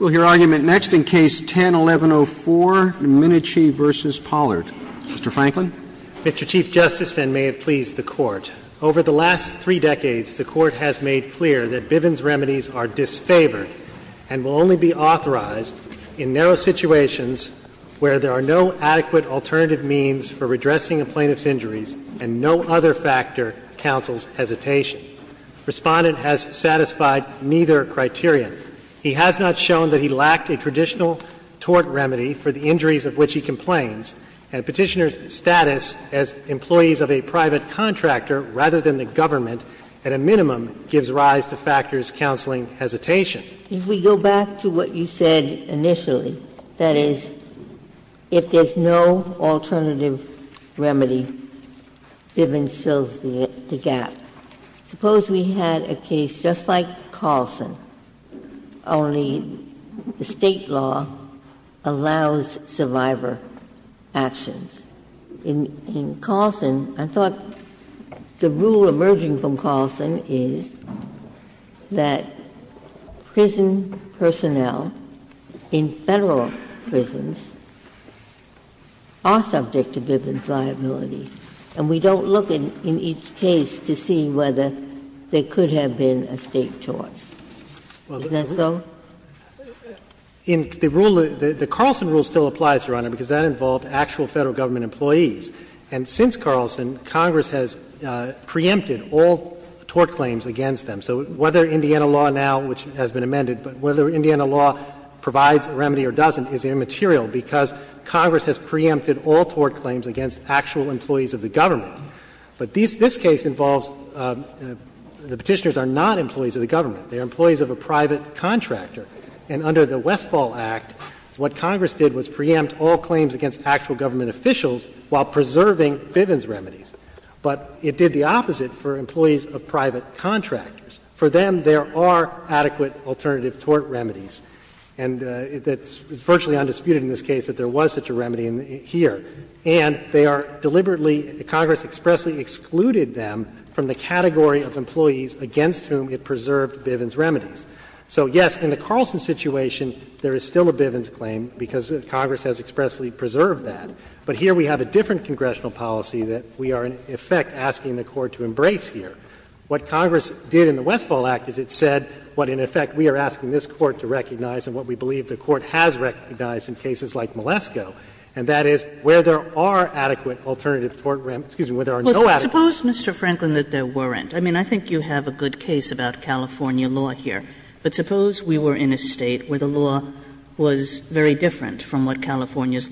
Mr. Chief Justice, and may it please the Court, over the last three decades, the Court has made clear that Bivens Remedies are disfavored and will only be authorized in narrow situations where there are no adequate alternative means for redressing a plaintiff's injuries and no other factor counsels hesitation. Respondent has satisfied both of these arguments. He has not shown that he lacked a traditional tort remedy for the injuries of which he complains, and Petitioner's status as employees of a private contractor rather than the government, at a minimum, gives rise to factors counseling hesitation. Ginsburg If we go back to what you said initially, that is, if there's no alternative remedy, Bivens fills the gap. Suppose we had a case just like Carlson, only the State law allows survivor actions. In Carlson, I thought the rule emerging from Carlson is that prison personnel in Federal prisons are subject to Bivens Remedies. And we don't look in each case to see whether there could have been a State tort. Isn't that so? Katyal In the rule, the Carlson rule still applies, Your Honor, because that involved actual Federal government employees. And since Carlson, Congress has preempted all tort claims against them. So whether Indiana law now, which has been amended, but whether Indiana law provides a remedy or doesn't is immaterial because Congress has preempted all tort claims against actual employees of the government. But this case involves the Petitioners are not employees of the government. They are employees of a private contractor. And under the Westfall Act, what Congress did was preempt all claims against actual government officials while preserving Bivens Remedies. But it did the opposite for employees of private contractors. For them, there are adequate alternative tort remedies. And it's virtually undisputed in this case that there was such a remedy here. And they are deliberately, Congress expressly excluded them from the category of employees against whom it preserved Bivens Remedies. So, yes, in the Carlson situation, there is still a Bivens claim because Congress has expressly preserved that. But here we have a different congressional policy that we are, in effect, asking the Court to embrace here. What Congress did in the Westfall Act is it said what, in effect, we are asking this Court to recognize and what we believe the Court has recognized in cases like Moleskoe. And that is where there are adequate alternative tort remedies – excuse me, where there are no adequate. Kagan. Kagan. Sotomayor Well, suppose, Mr. Franklin, that there weren't. I mean, I think you have a good case about California law here. But suppose we were in a State where the law was very different from what California's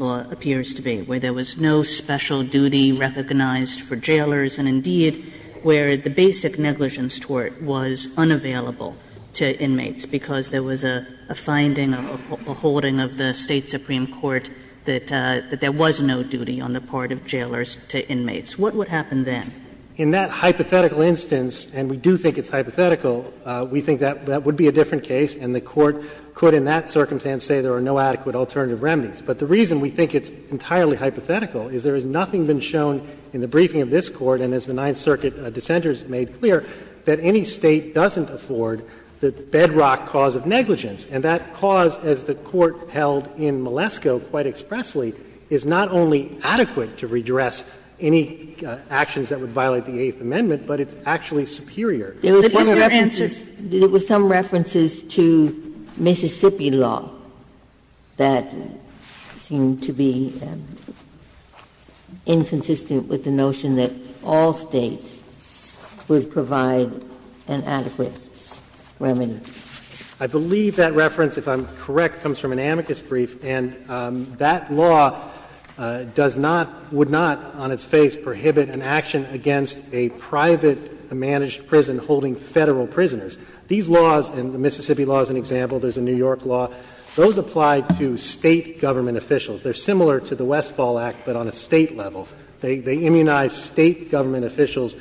where the basic negligence tort was unavailable to inmates because there was a finding or a holding of the State supreme court that there was no duty on the part of jailers to inmates. What would happen then? Franklin In that hypothetical instance, and we do think it's hypothetical, we think that that would be a different case, and the Court could in that circumstance say there are no adequate alternative remedies. But the reason we think it's entirely hypothetical is there has nothing been shown in the briefing of this Court and as the Ninth Circuit dissenters made clear, that any State doesn't afford the bedrock cause of negligence. And that cause, as the Court held in Moleskoe quite expressly, is not only adequate to redress any actions that would violate the Eighth Amendment, but it's actually superior. Ginsburg There were some references to Mississippi law that seemed to be inconsistent with the notion that all States would provide an adequate remedy. Franklin I believe that reference, if I'm correct, comes from an amicus brief, and that law does not, would not on its face prohibit an action against a private managed prison holding Federal prisoners. These laws, and the Mississippi law is an example, there's a New York law, those apply to State government officials. They are similar to the Westfall Act, but on a State level. They immunize State government officials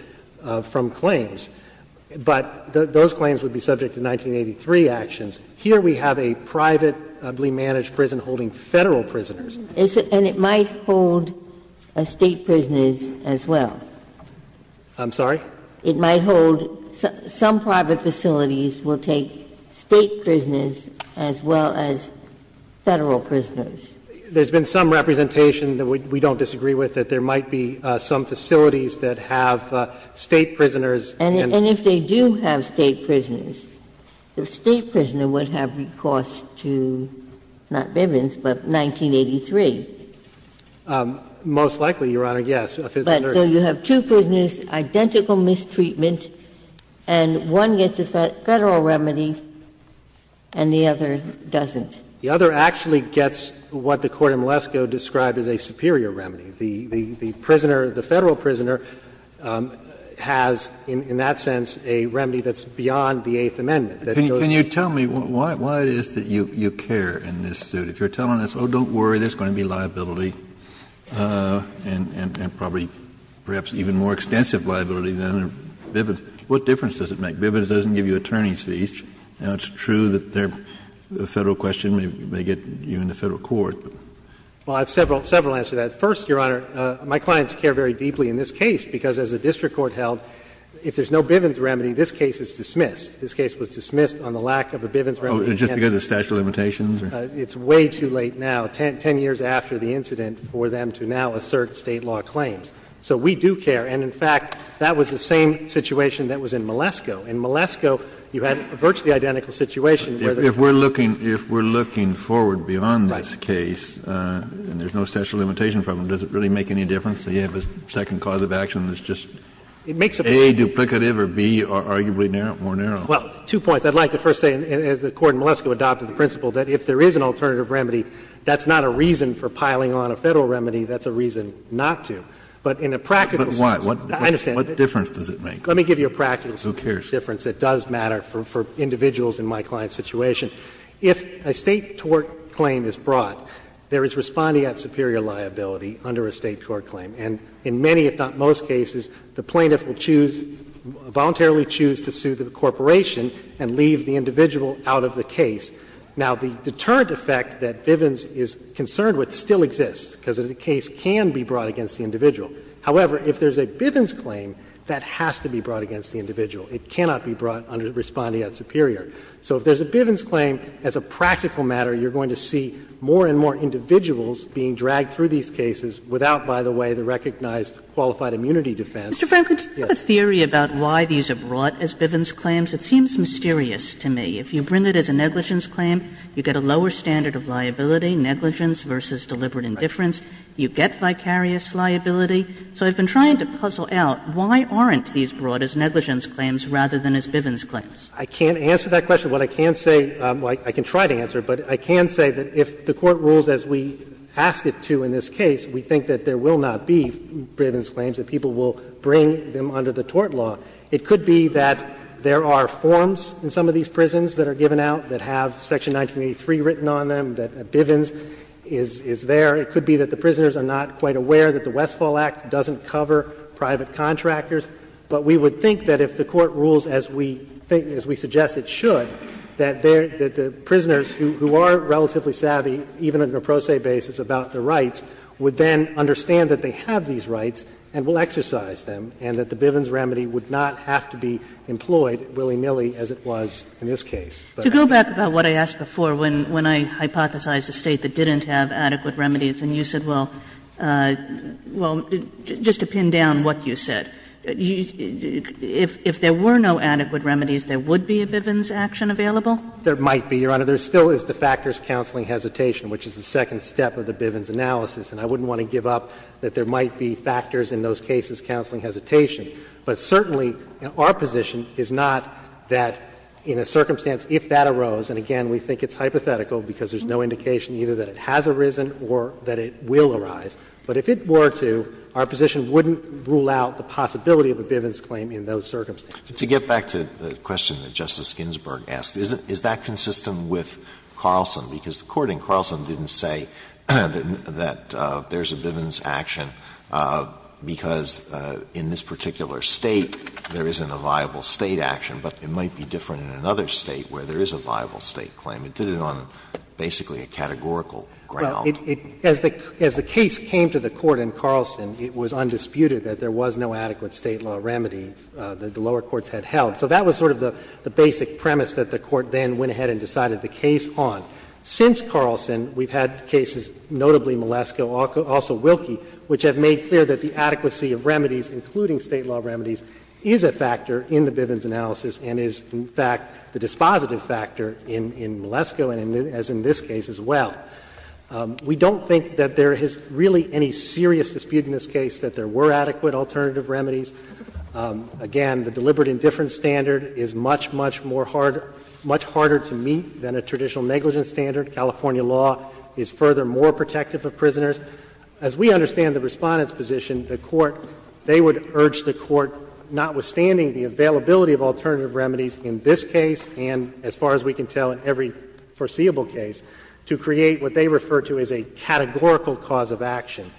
from claims. But those claims would be subject to 1983 actions. Here we have a privately managed prison holding Federal prisoners. Ginsburg And it might hold State prisoners as well. Franklin I'm sorry? Ginsburg It might hold some private facilities will take State prisoners as well as Federal prisoners. Franklin There's been some representation that we don't disagree with, that there might be some facilities that have State prisoners. Ginsburg And if they do have State prisoners, the State prisoner would have recourse to, not Bivens, but 1983. Franklin Most likely, Your Honor, yes. Ginsburg So you have two prisoners, identical mistreatment, and one gets a Federal remedy and the other doesn't. Franklin The other actually gets what the Court in Malesko described as a superior remedy. The prisoner, the Federal prisoner, has in that sense a remedy that's beyond the Eighth Amendment. Kennedy Can you tell me why it is that you care in this suit? If you're telling us, oh, don't worry, there's going to be liability and probably perhaps even more extensive liability than in Bivens, what difference does it make? Bivens doesn't give you attorney's fees. Now, it's true that the Federal question may get you in the Federal court, but. Franklin Well, I have several answers to that. First, Your Honor, my clients care very deeply in this case, because as the district court held, if there's no Bivens remedy, this case is dismissed. This case was dismissed on the lack of a Bivens remedy. Kennedy Oh, just because of statute of limitations? Franklin It's way too late now, 10 years after the incident, for them to now assert State law claims. So we do care. And in fact, that was the same situation that was in Malesko. In Malesko, you had a virtually identical situation where there was no Bivens remedy. Kennedy If we're looking forward beyond this case, and there's no statute of limitations problem, does it really make any difference that you have a second cause of action that's just A, duplicative, or B, arguably more narrow? Franklin Well, two points. I'd like to first say, as the Court in Malesko adopted the principle, that if there is an alternative remedy, that's not a reason for piling on a Federal remedy, that's a reason not to. But in a practical sense, I understand. Kennedy But why? What difference does it make? Franklin Let me give you a practical sense. Kennedy Who cares? Franklin It doesn't make a huge difference. It does matter for individuals in my client's situation. If a State tort claim is brought, there is responding act superior liability under a State tort claim. And in many, if not most cases, the plaintiff will choose, voluntarily choose to sue the corporation and leave the individual out of the case. Now, the deterrent effect that Bivens is concerned with still exists, because the case can be brought against the individual. However, if there is a Bivens claim, that has to be brought against the individual. It cannot be brought under responding act superior. So if there is a Bivens claim, as a practical matter, you are going to see more and more individuals being dragged through these cases without, by the way, the recognized qualified immunity defense. Kagan Mr. Franklin, do you have a theory about why these are brought as Bivens claims? It seems mysterious to me. If you bring it as a negligence claim, you get a lower standard of liability, negligence versus deliberate indifference. You get vicarious liability. So I've been trying to puzzle out, why aren't these brought as negligence claims rather than as Bivens claims? I can't answer that question. What I can say, well, I can try to answer it, but I can say that if the Court rules as we ask it to in this case, we think that there will not be Bivens claims, that people will bring them under the tort law. It could be that there are forms in some of these prisons that are given out that have Section 1983 written on them, that Bivens is there. It could be that the prisoners are not quite aware that the Westfall Act doesn't cover private contractors. But we would think that if the Court rules as we suggest it should, that the prisoners who are relatively savvy, even on a pro se basis, about the rights, would then understand that they have these rights and will exercise them, and that the Bivens remedy would not have to be employed willy-nilly as it was in this case. Kagan, to go back about what I asked before, when I hypothesized a State that didn't have adequate remedies and you said, well, well, just to pin down what you said, if there were no adequate remedies there would be a Bivens action available? There might be, Your Honor. There still is the factors counseling hesitation, which is the second step of the Bivens analysis, and I wouldn't want to give up that there might be factors in those cases counseling hesitation. But certainly, our position is not that in a circumstance if that arose, and again, we think it's hypothetical because there's no indication either that it has arisen or that it will arise. But if it were to, our position wouldn't rule out the possibility of a Bivens claim in those circumstances. Alito To get back to the question that Justice Ginsburg asked, is that consistent with Carlson? Because according, Carlson didn't say that there's a Bivens action because in this particular State there isn't a viable State action, but it might be different in another State where there is a viable State claim. It did it on basically a categorical ground. Well, as the case came to the Court in Carlson, it was undisputed that there was no adequate State law remedy that the lower courts had held. So that was sort of the basic premise that the Court then went ahead and decided the case on. Since Carlson, we've had cases, notably Malesko, also Wilkie, which have made clear that the adequacy of remedies, including State law remedies, is a factor in the Bivens analysis and is, in fact, the dispositive factor in Malesko and as in this case as well. We don't think that there is really any serious dispute in this case that there were adequate alternative remedies. Again, the deliberate indifference standard is much, much more hard to meet than a traditional negligence standard. California law is furthermore protective of prisoners. As we understand the Respondent's position, the Court, they would urge the Court, notwithstanding the availability of alternative remedies in this case and as far as we can tell in every foreseeable case, to create what they refer to as a categorical cause of action,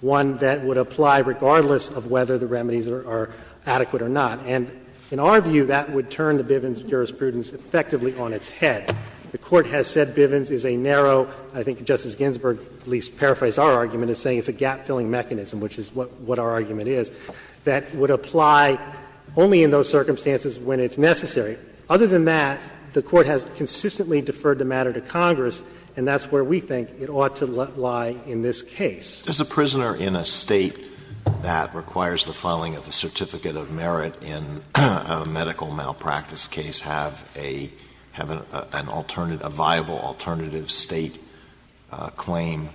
one that would apply regardless of whether the remedies are adequate or not. And in our view, that would turn the Bivens jurisprudence effectively on its head. The Court has said Bivens is a narrow, I think Justice Ginsburg at least paraphrased our argument as saying it's a gap-filling mechanism, which is what our argument is, that would apply only in those circumstances when it's necessary. Other than that, the Court has consistently deferred the matter to Congress, and that's where we think it ought to lie in this case. Alitoso, does a prisoner in a State that requires the filing of a certificate of merit in a medical malpractice case have a viable alternative State claim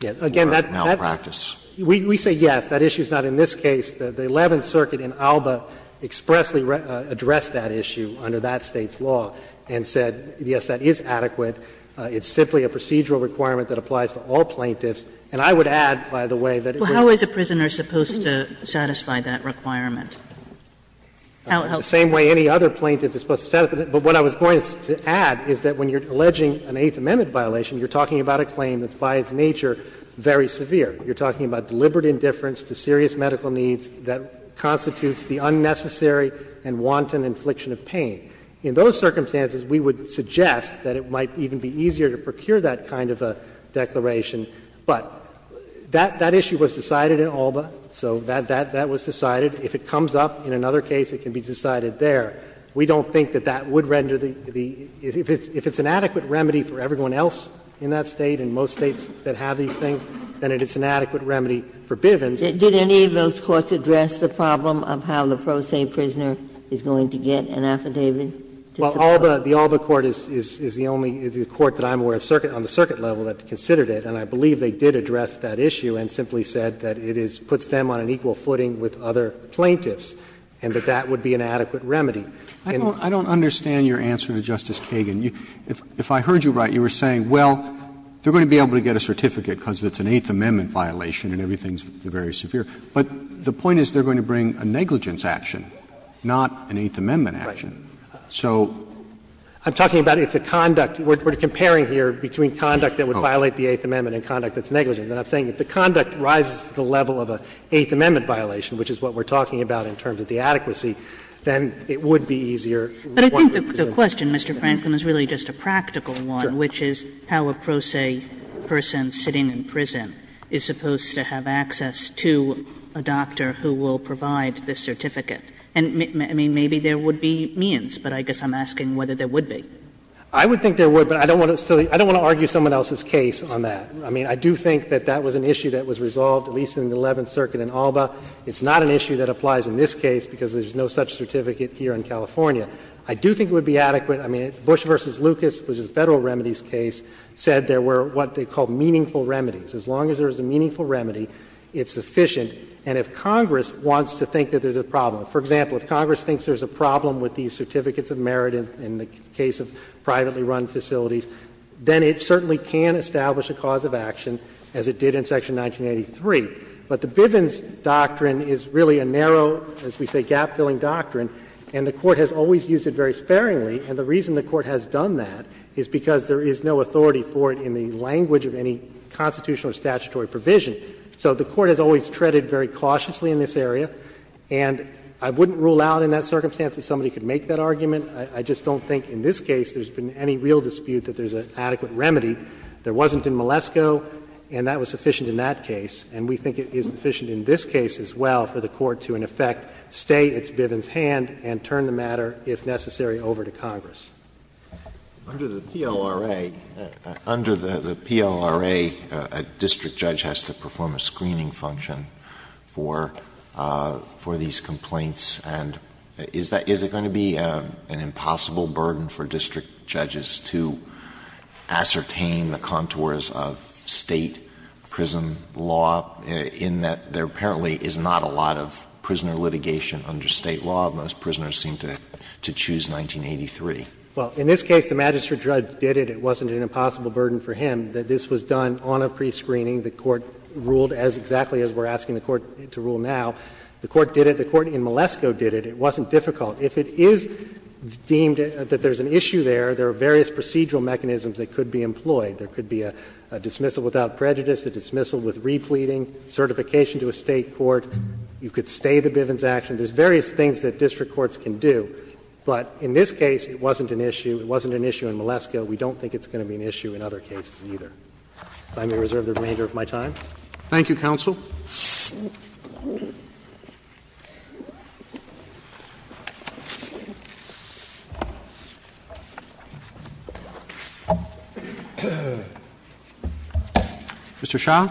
to the medical malpractice? We say yes, that issue is not in this case. The Eleventh Circuit in ALBA expressly addressed that issue under that State's law and said, yes, that is adequate. It's simply a procedural requirement that applies to all plaintiffs. And I would add, by the way, that it would not be in this case. How is a prisoner supposed to satisfy that requirement? The same way any other plaintiff is supposed to satisfy that. But what I was going to add is that when you're alleging an Eighth Amendment violation, you're talking about a claim that's by its nature very severe. You're talking about deliberate indifference to serious medical needs that constitutes the unnecessary and wanton infliction of pain. In those circumstances, we would suggest that it might even be easier to procure that kind of a declaration. But that issue was decided in ALBA, so that was decided. If it comes up in another case, it can be decided there. We don't think that that would render the — if it's an adequate remedy for everyone else in that State, in most States that have these things, then it's an adequate remedy for Bivens. Ginsburg. Did any of those courts address the problem of how the pro se prisoner is going to get an affidavit? Well, ALBA, the ALBA court is the only court that I'm aware of on the circuit level that considered it. And I believe they did address that issue and simply said that it puts them on an equal footing with other plaintiffs, and that that would be an adequate remedy. I don't understand your answer to Justice Kagan. If I heard you right, you were saying, well, they're going to be able to get a certificate because it's an Eighth Amendment violation and everything is very severe. But the point is they're going to bring a negligence action, not an Eighth Amendment action. So. I'm talking about if the conduct — we're comparing here between conduct that would violate the Eighth Amendment and conduct that's negligent. And I'm saying if the conduct rises to the level of an Eighth Amendment violation, which is what we're talking about in terms of the adequacy, then it would be easier to report. Kagan. I think the question, Mr. Franklin, is really just a practical one, which is how a pro se person sitting in prison is supposed to have access to a doctor who will provide this certificate. And, I mean, maybe there would be means, but I guess I'm asking whether there would be. I would think there would, but I don't want to argue someone else's case on that. I mean, I do think that that was an issue that was resolved at least in the Eleventh Circuit in ALBA. It's not an issue that applies in this case because there's no such certificate here in California. I do think it would be adequate. I mean, Bush v. Lucas, which is a Federal remedies case, said there were what they called meaningful remedies. As long as there's a meaningful remedy, it's sufficient. And if Congress wants to think that there's a problem, for example, if Congress thinks there's a problem with these certificates of merit in the case of privately run facilities, then it certainly can establish a cause of action as it did in Section 1983. But the Bivens doctrine is really a narrow, as we say, gap-filling doctrine, and the Court has always used it very sparingly. And the reason the Court has done that is because there is no authority for it in the language of any constitutional or statutory provision. So the Court has always treaded very cautiously in this area. And I wouldn't rule out in that circumstance that somebody could make that argument. I just don't think in this case there's been any real dispute that there's an adequate remedy. There wasn't in Malesko, and that was sufficient in that case. And if the Court wants to make that argument, we do not want to change that, say, it's Bivens' hand and turn the matter, if necessary, over to Congress. Under the PLRA, under the PLRA, a district judge has to perform a screening function for these complaints, and is it going to be an impossible burden for district judges to ascertain the contours of State prison law, in that there apparently is not a lot of prisoner litigation under State law, most prisoners seem to choose 1983? Well, in this case, the magistrate judge did it, it wasn't an impossible burden for him, that this was done on a prescreening, the Court ruled exactly as we are asking the Court to rule now, the Court did it, the Court in Malesko did it, it wasn't difficult. If it is deemed that there is an issue there, there are various procedural mechanisms that could be employed. There could be a dismissal without prejudice, a dismissal with repleting, certification to a State court, you could stay the Bivens' action, there's various things that district courts can do, but in this case, it wasn't an issue, it wasn't an issue in Malesko, we don't think it's going to be an issue in other cases either. If I may reserve the remainder of my time. Roberts. Thank you, counsel. Mr. Shah.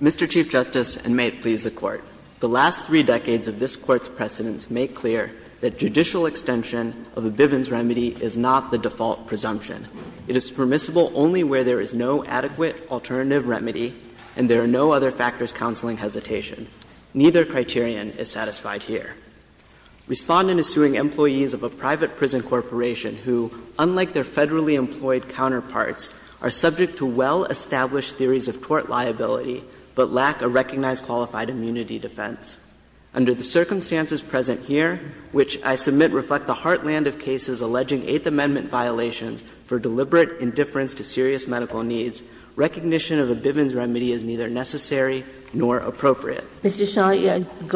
Mr. Chief Justice, and may it please the Court, the last three decades of this Court's precedents make clear that judicial extension of a Bivens remedy is not the default presumption. It is permissible only where there is no adequate alternative remedy and there are no other factors counseling hesitation. Neither criterion is satisfied here. Respondent is suing employees of a private prison corporation who, unlike their Mr. Shah, you go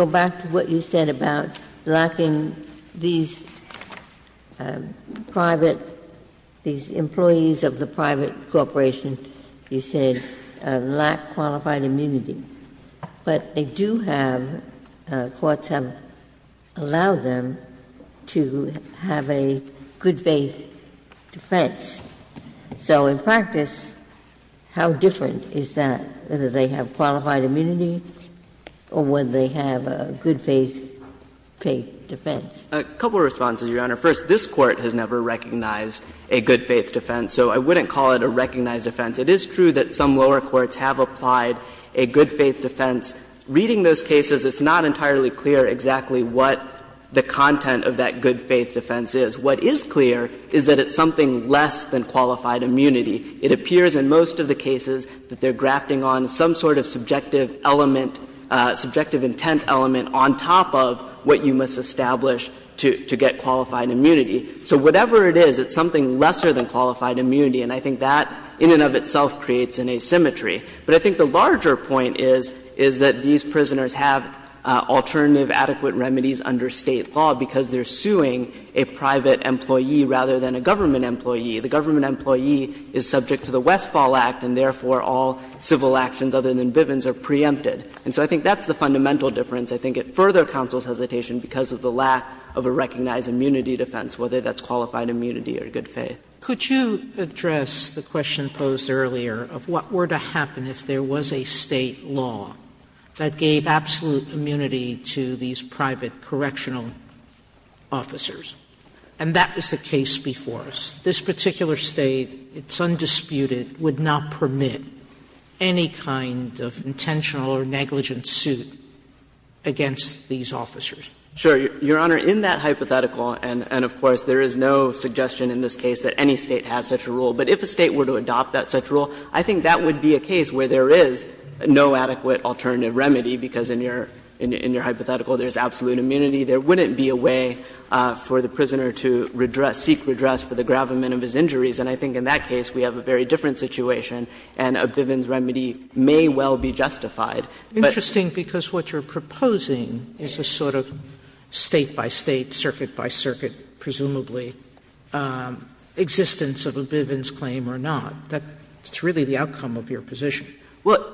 back to what you said about lacking these private, these employees of the private corporation, you said. A couple of responses, Your Honor. First, this Court has never recognized a good-faith defense, so I wouldn't call it a recognized offense. It is true that some lower courts have applied a good-faith defense. Reading those cases, it's not entirely clear exactly what the content of that good-faith defense is. What is clear is that it's something less than qualified immunity. It appears in most of the cases that they're grafting on some sort of subjective element, subjective intent element on top of what you must establish to get qualified immunity. So whatever it is, it's something lesser than qualified immunity. And I think that in and of itself creates an asymmetry. But I think the larger point is, is that these prisoners have alternative adequate remedies under State law because they're suing a private employee rather than a government employee. The government employee is subject to the Westfall Act, and therefore all civil actions other than Bivens are preempted. And so I think that's the fundamental difference. I think it further counsels hesitation because of the lack of a recognized immunity defense, whether that's qualified immunity or good faith. Sotomayor, could you address the question posed earlier of what were to happen if there was a State law that gave absolute immunity to these private correctional officers? And that was the case before us. This particular State, it's undisputed, would not permit any kind of intentional or negligent suit against these officers. Sure. Your Honor, in that hypothetical, and of course there is no suggestion in this case that any State has such a rule, but if a State were to adopt that such a rule, I think that would be a case where there is no adequate alternative remedy, because in your hypothetical there is absolute immunity. There wouldn't be a way for the prisoner to redress, seek redress for the gravamen of his injuries, and I think in that case we have a very different situation and a Bivens remedy may well be justified. Sotomayor, interesting, because what you're proposing is a sort of State by State, State circuit by circuit, presumably, existence of a Bivens claim or not. That's really the outcome of your position. Well,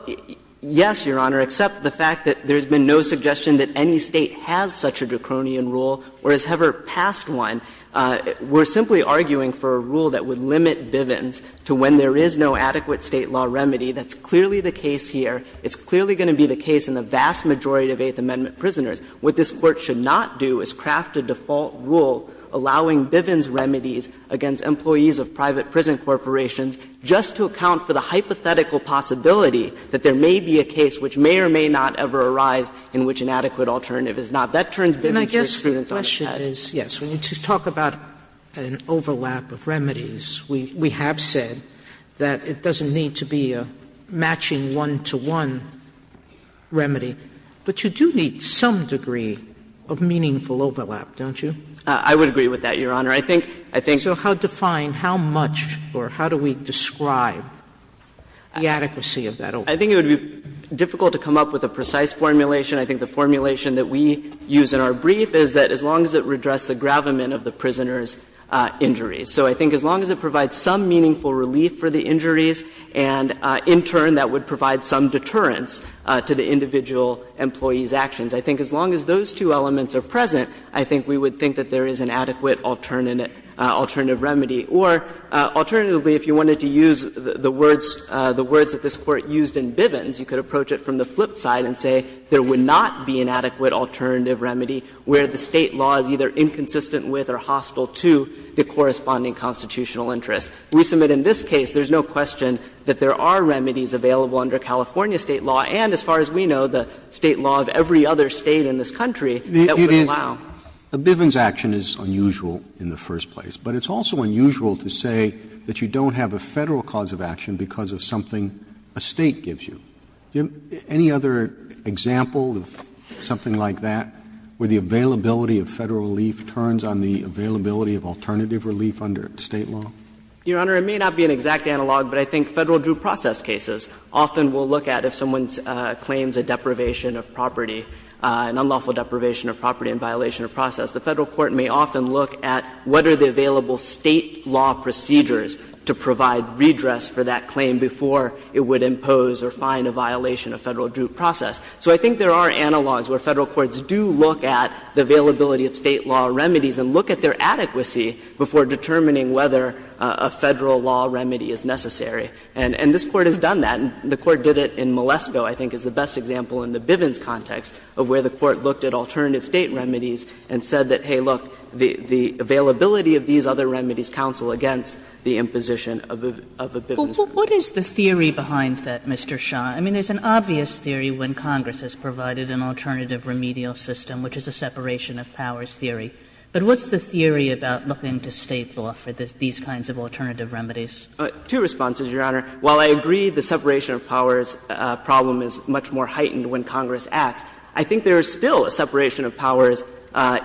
yes, Your Honor, except the fact that there has been no suggestion that any State has such a Dacronian rule or has ever passed one. We're simply arguing for a rule that would limit Bivens to when there is no adequate State law remedy. That's clearly the case here. It's clearly going to be the case in the vast majority of Eighth Amendment prisoners. What this Court should not do is craft a default rule allowing Bivens remedies against employees of private prison corporations just to account for the hypothetical possibility that there may be a case which may or may not ever arise in which an adequate alternative is not. That turns Bivens' experience on its head. Sotomayor, I guess the question is, yes, when you talk about an overlap of remedies, we have said that it doesn't need to be a matching one-to-one remedy, but you do need some degree of meaningful overlap, don't you? I would agree with that, Your Honor. I think the thing is that as long as it would address the gravamen of the prisoner's injuries. I think it would be difficult to come up with a precise formulation. I think the formulation that we use in our brief is that as long as it would address the gravamen of the prisoner's injuries. So I think as long as it provides some meaningful relief for the injuries and in turn that would provide some deterrence to the individual employee's actions, I think as long as those two elements are present, I think we would think that there is an adequate alternative remedy. Or alternatively, if you wanted to use the words that this Court used in Bivens, you could approach it from the flip side and say there would not be an adequate alternative remedy where the State law is either inconsistent with or hostile to the corresponding constitutional interests. We submit in this case there is no question that there are remedies available under California State law and, as far as we know, the State law of every other State in this country that would allow. Roberts. Roberts. The Bivens action is unusual in the first place, but it's also unusual to say that you don't have a Federal cause of action because of something a State gives you. Any other example of something like that where the availability of Federal relief turns on the availability of alternative relief under State law? Your Honor, it may not be an exact analog, but I think Federal due process cases often will look at if someone claims a deprivation of property, an unlawful deprivation of property in violation of process, the Federal court may often look at what are the available State law procedures to provide redress for that claim before it would impose or find a violation of Federal due process. So I think there are analogs where Federal courts do look at the availability of State law remedies and look at their adequacy before determining whether a Federal law remedy is necessary. And this Court has done that, and the Court did it in Malesko, I think, is the best example in the Bivens context of where the Court looked at alternative State remedies and said that, hey, look, the availability of these other remedies counsel against the imposition of a Bivens remedy. Kagan. Kagan. Kagan. Kagan. Kagan. Kagan. Kagan. Kagan. Kagan. Kagan. Kagan. Kagan. Kagan. But what's the theory about looking to State law for these kinds of alternative remedies? two responses, Your Honor. While I agree the separation of powers problem is much more heightened when Congress acts, I think there's still a separation of powers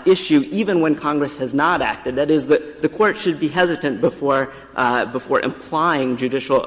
issue, even when Congress has not acted. That is, the Court should be hesitant before implying judicial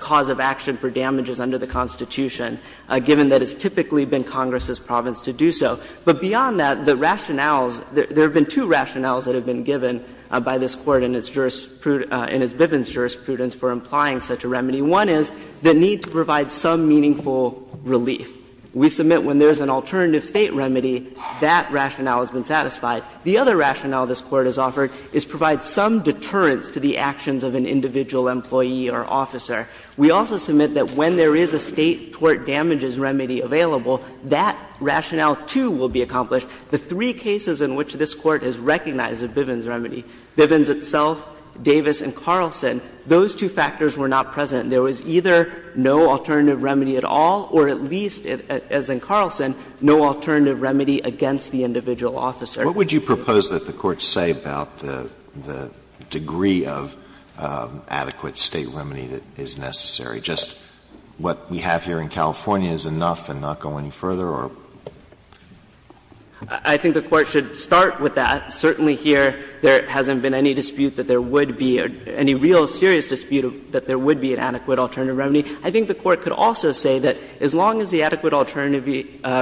cause of action for damages under the Constitution, given that it's typically been Congress' province to do so. But beyond that, the rationales, there have been two rationales that have been given by this Court in its jurisprudence, in its Bivens jurisprudence for implying such a remedy. One is the need to provide some meaningful relief. We submit when there's an alternative State remedy, that rationale has been satisfied. The other rationale this Court has offered is provide some deterrence to the actions of an individual employee or officer. We also submit that when there is a State tort damages remedy available, that rationale too will be accomplished. The three cases in which this Court has recognized a Bivens remedy, Bivens itself, Davis and Carlson, those two factors were not present. There was either no alternative remedy at all, or at least, as in Carlson, no alternative remedy against the individual officer. Alitoso, what would you propose that the Court say about the degree of adequate State remedy that is necessary? Just what we have here in California is enough and not go any further? I think the Court should start with that. Certainly here, there hasn't been any dispute that there would be, any real serious dispute that there would be an adequate alternative remedy. I think the Court could also say that as long as the adequate alternative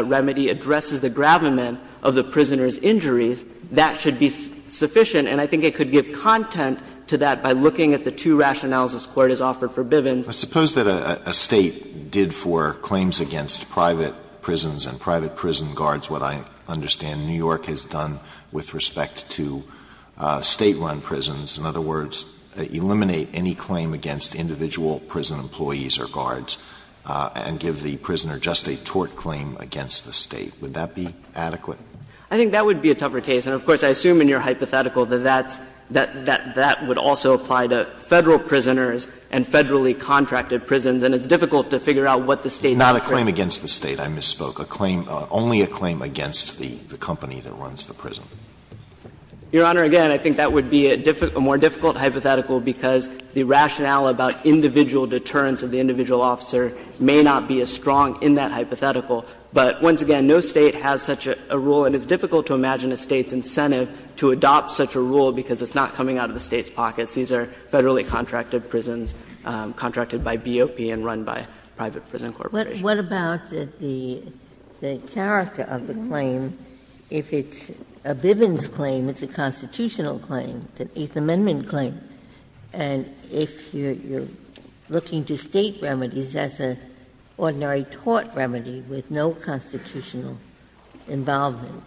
remedy addresses the gravamen of the prisoner's injuries, that should be sufficient. And I think it could give content to that by looking at the two rationales this Court has offered for Bivens. Alitoso, I suppose that a State did for claims against private prisons and private prison guards what I understand New York has done with respect to State-run prisons. In other words, eliminate any claim against individual prison employees or guards and give the prisoner just a tort claim against the State. Would that be adequate? I think that would be a tougher case. And of course, I assume in your hypothetical that that's, that that would also apply to Federal prisoners and Federally-contracted prisons, and it's difficult to figure out what the State offers. Alitoso, not a claim against the State, I misspoke, a claim, only a claim against the company that runs the prison. Your Honor, again, I think that would be a difficult, a more difficult hypothetical because the rationale about individual deterrence of the individual officer may not be as strong in that hypothetical. But once again, no State has such a rule, and it's difficult to imagine a State's these are Federally-contracted prisons, contracted by BOP and run by private prison corporations. Ginsburg. What about the character of the claim? If it's a Bivens claim, it's a constitutional claim, it's an Eighth Amendment claim. And if you're looking to State remedies, that's an ordinary tort remedy with no constitutional involvement.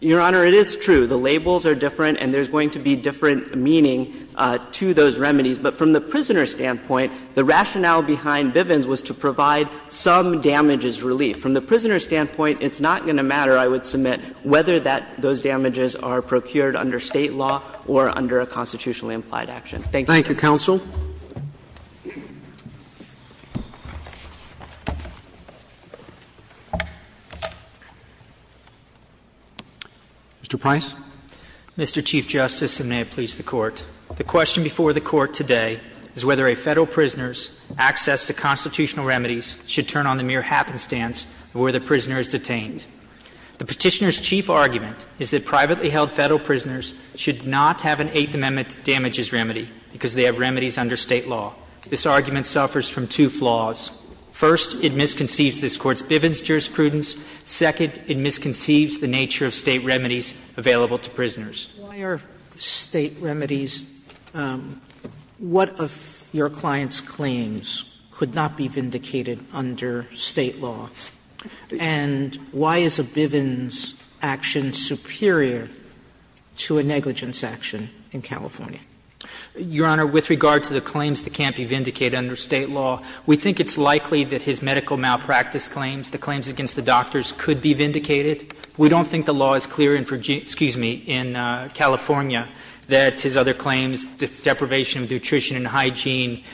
Your Honor, it is true. The labels are different, and there's going to be different meaning to those remedies. But from the prisoner's standpoint, the rationale behind Bivens was to provide some damages relief. From the prisoner's standpoint, it's not going to matter, I would submit, whether that those damages are procured under State law or under a constitutionally implied action. Thank you, Your Honor. Roberts. Thank you, counsel. Mr. Price. Mr. Chief Justice, and may it please the Court. The question before the Court today is whether a Federal prisoner's access to constitutional remedies should turn on the mere happenstance of where the prisoner is detained. The Petitioner's chief argument is that privately held Federal prisoners should not have an Eighth Amendment damages remedy because they have remedies under State law. This argument suffers from two flaws. First, it misconceives this Court's Bivens jurisprudence. Second, it misconceives the nature of State remedies available to prisoners. Sotomayor, why are State remedies what of your client's claims could not be vindicated under State law? And why is a Bivens action superior to a negligence action in California? Your Honor, with regard to the claims that can't be vindicated under State law, we think it's likely that his medical malpractice claims, the claims against the doctors, could be vindicated. We don't think the law is clear in Virginia --" excuse me, in California, that his other claims, deprivation of nutrition and hygiene,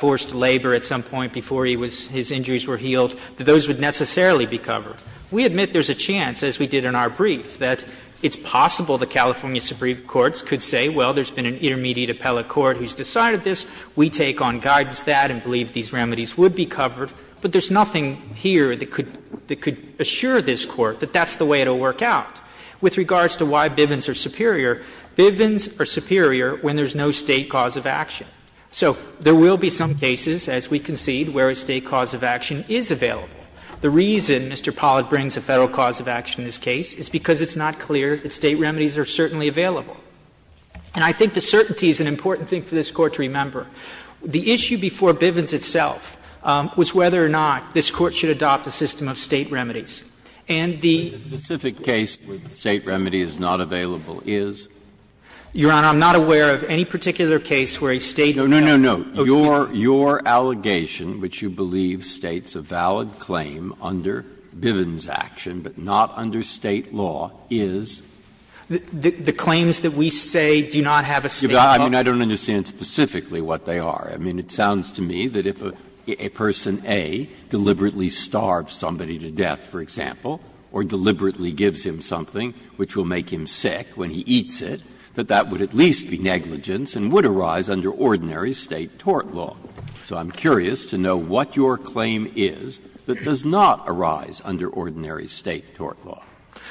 forced labor at some point before he was his injuries were healed, that those would necessarily be covered. We admit there's a chance, as we did in our brief, that it's possible the California Supreme Court could say, well, there's been an intermediate appellate court who's decided this, we take on guidance that and believe these remedies would be covered, but there's nothing here that could assure this Court that that's the way it will work out. With regards to why Bivens are superior, Bivens are superior when there's no State cause of action. So there will be some cases, as we concede, where a State cause of action is available. The reason Mr. Pollack brings a Federal cause of action in this case is because it's not clear that State remedies are certainly available. And I think the certainty is an important thing for this Court to remember. The issue before Bivens itself was whether or not this Court should adopt a system of State remedies. And the ---- Breyer, the specific case where the State remedy is not available is? Your Honor, I'm not aware of any particular case where a State remedy is not available. No, no, no. Your allegation, which you believe states a valid claim under Bivens' action, but not under State law, is? The claims that we say do not have a State cause of action. I mean, I don't understand specifically what they are. I mean, it sounds to me that if a person, A, deliberately starves somebody to death, for example, or deliberately gives him something which will make him sick when he eats it, that that would at least be negligence and would arise under ordinary State tort law. So I'm curious to know what your claim is that does not arise under ordinary State tort law.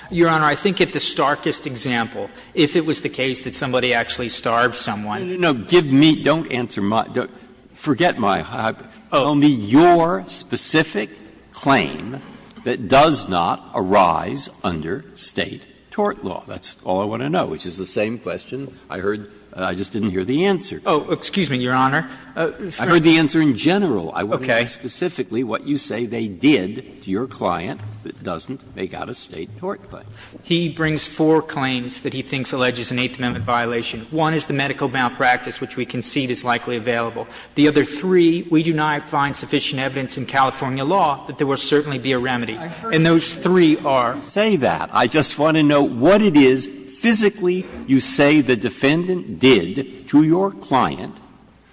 Your Honor, I think at the starkest example, if it was the case that somebody actually starved someone. No, no, no. Give me ---- don't answer my ---- forget my hypothesis. Tell me your specific claim that does not arise under State tort law. That's all I want to know, which is the same question I heard. I just didn't hear the answer. Oh, excuse me, Your Honor. I heard the answer in general. Okay. I want to know specifically what you say they did to your client that doesn't make out a State tort claim. He brings four claims that he thinks alleges an Eighth Amendment violation. One is the medical malpractice, which we concede is likely available. The other three, we do not find sufficient evidence in California law that there will certainly be a remedy. And those three are? I heard you say that. I just want to know what it is physically you say the defendant did to your client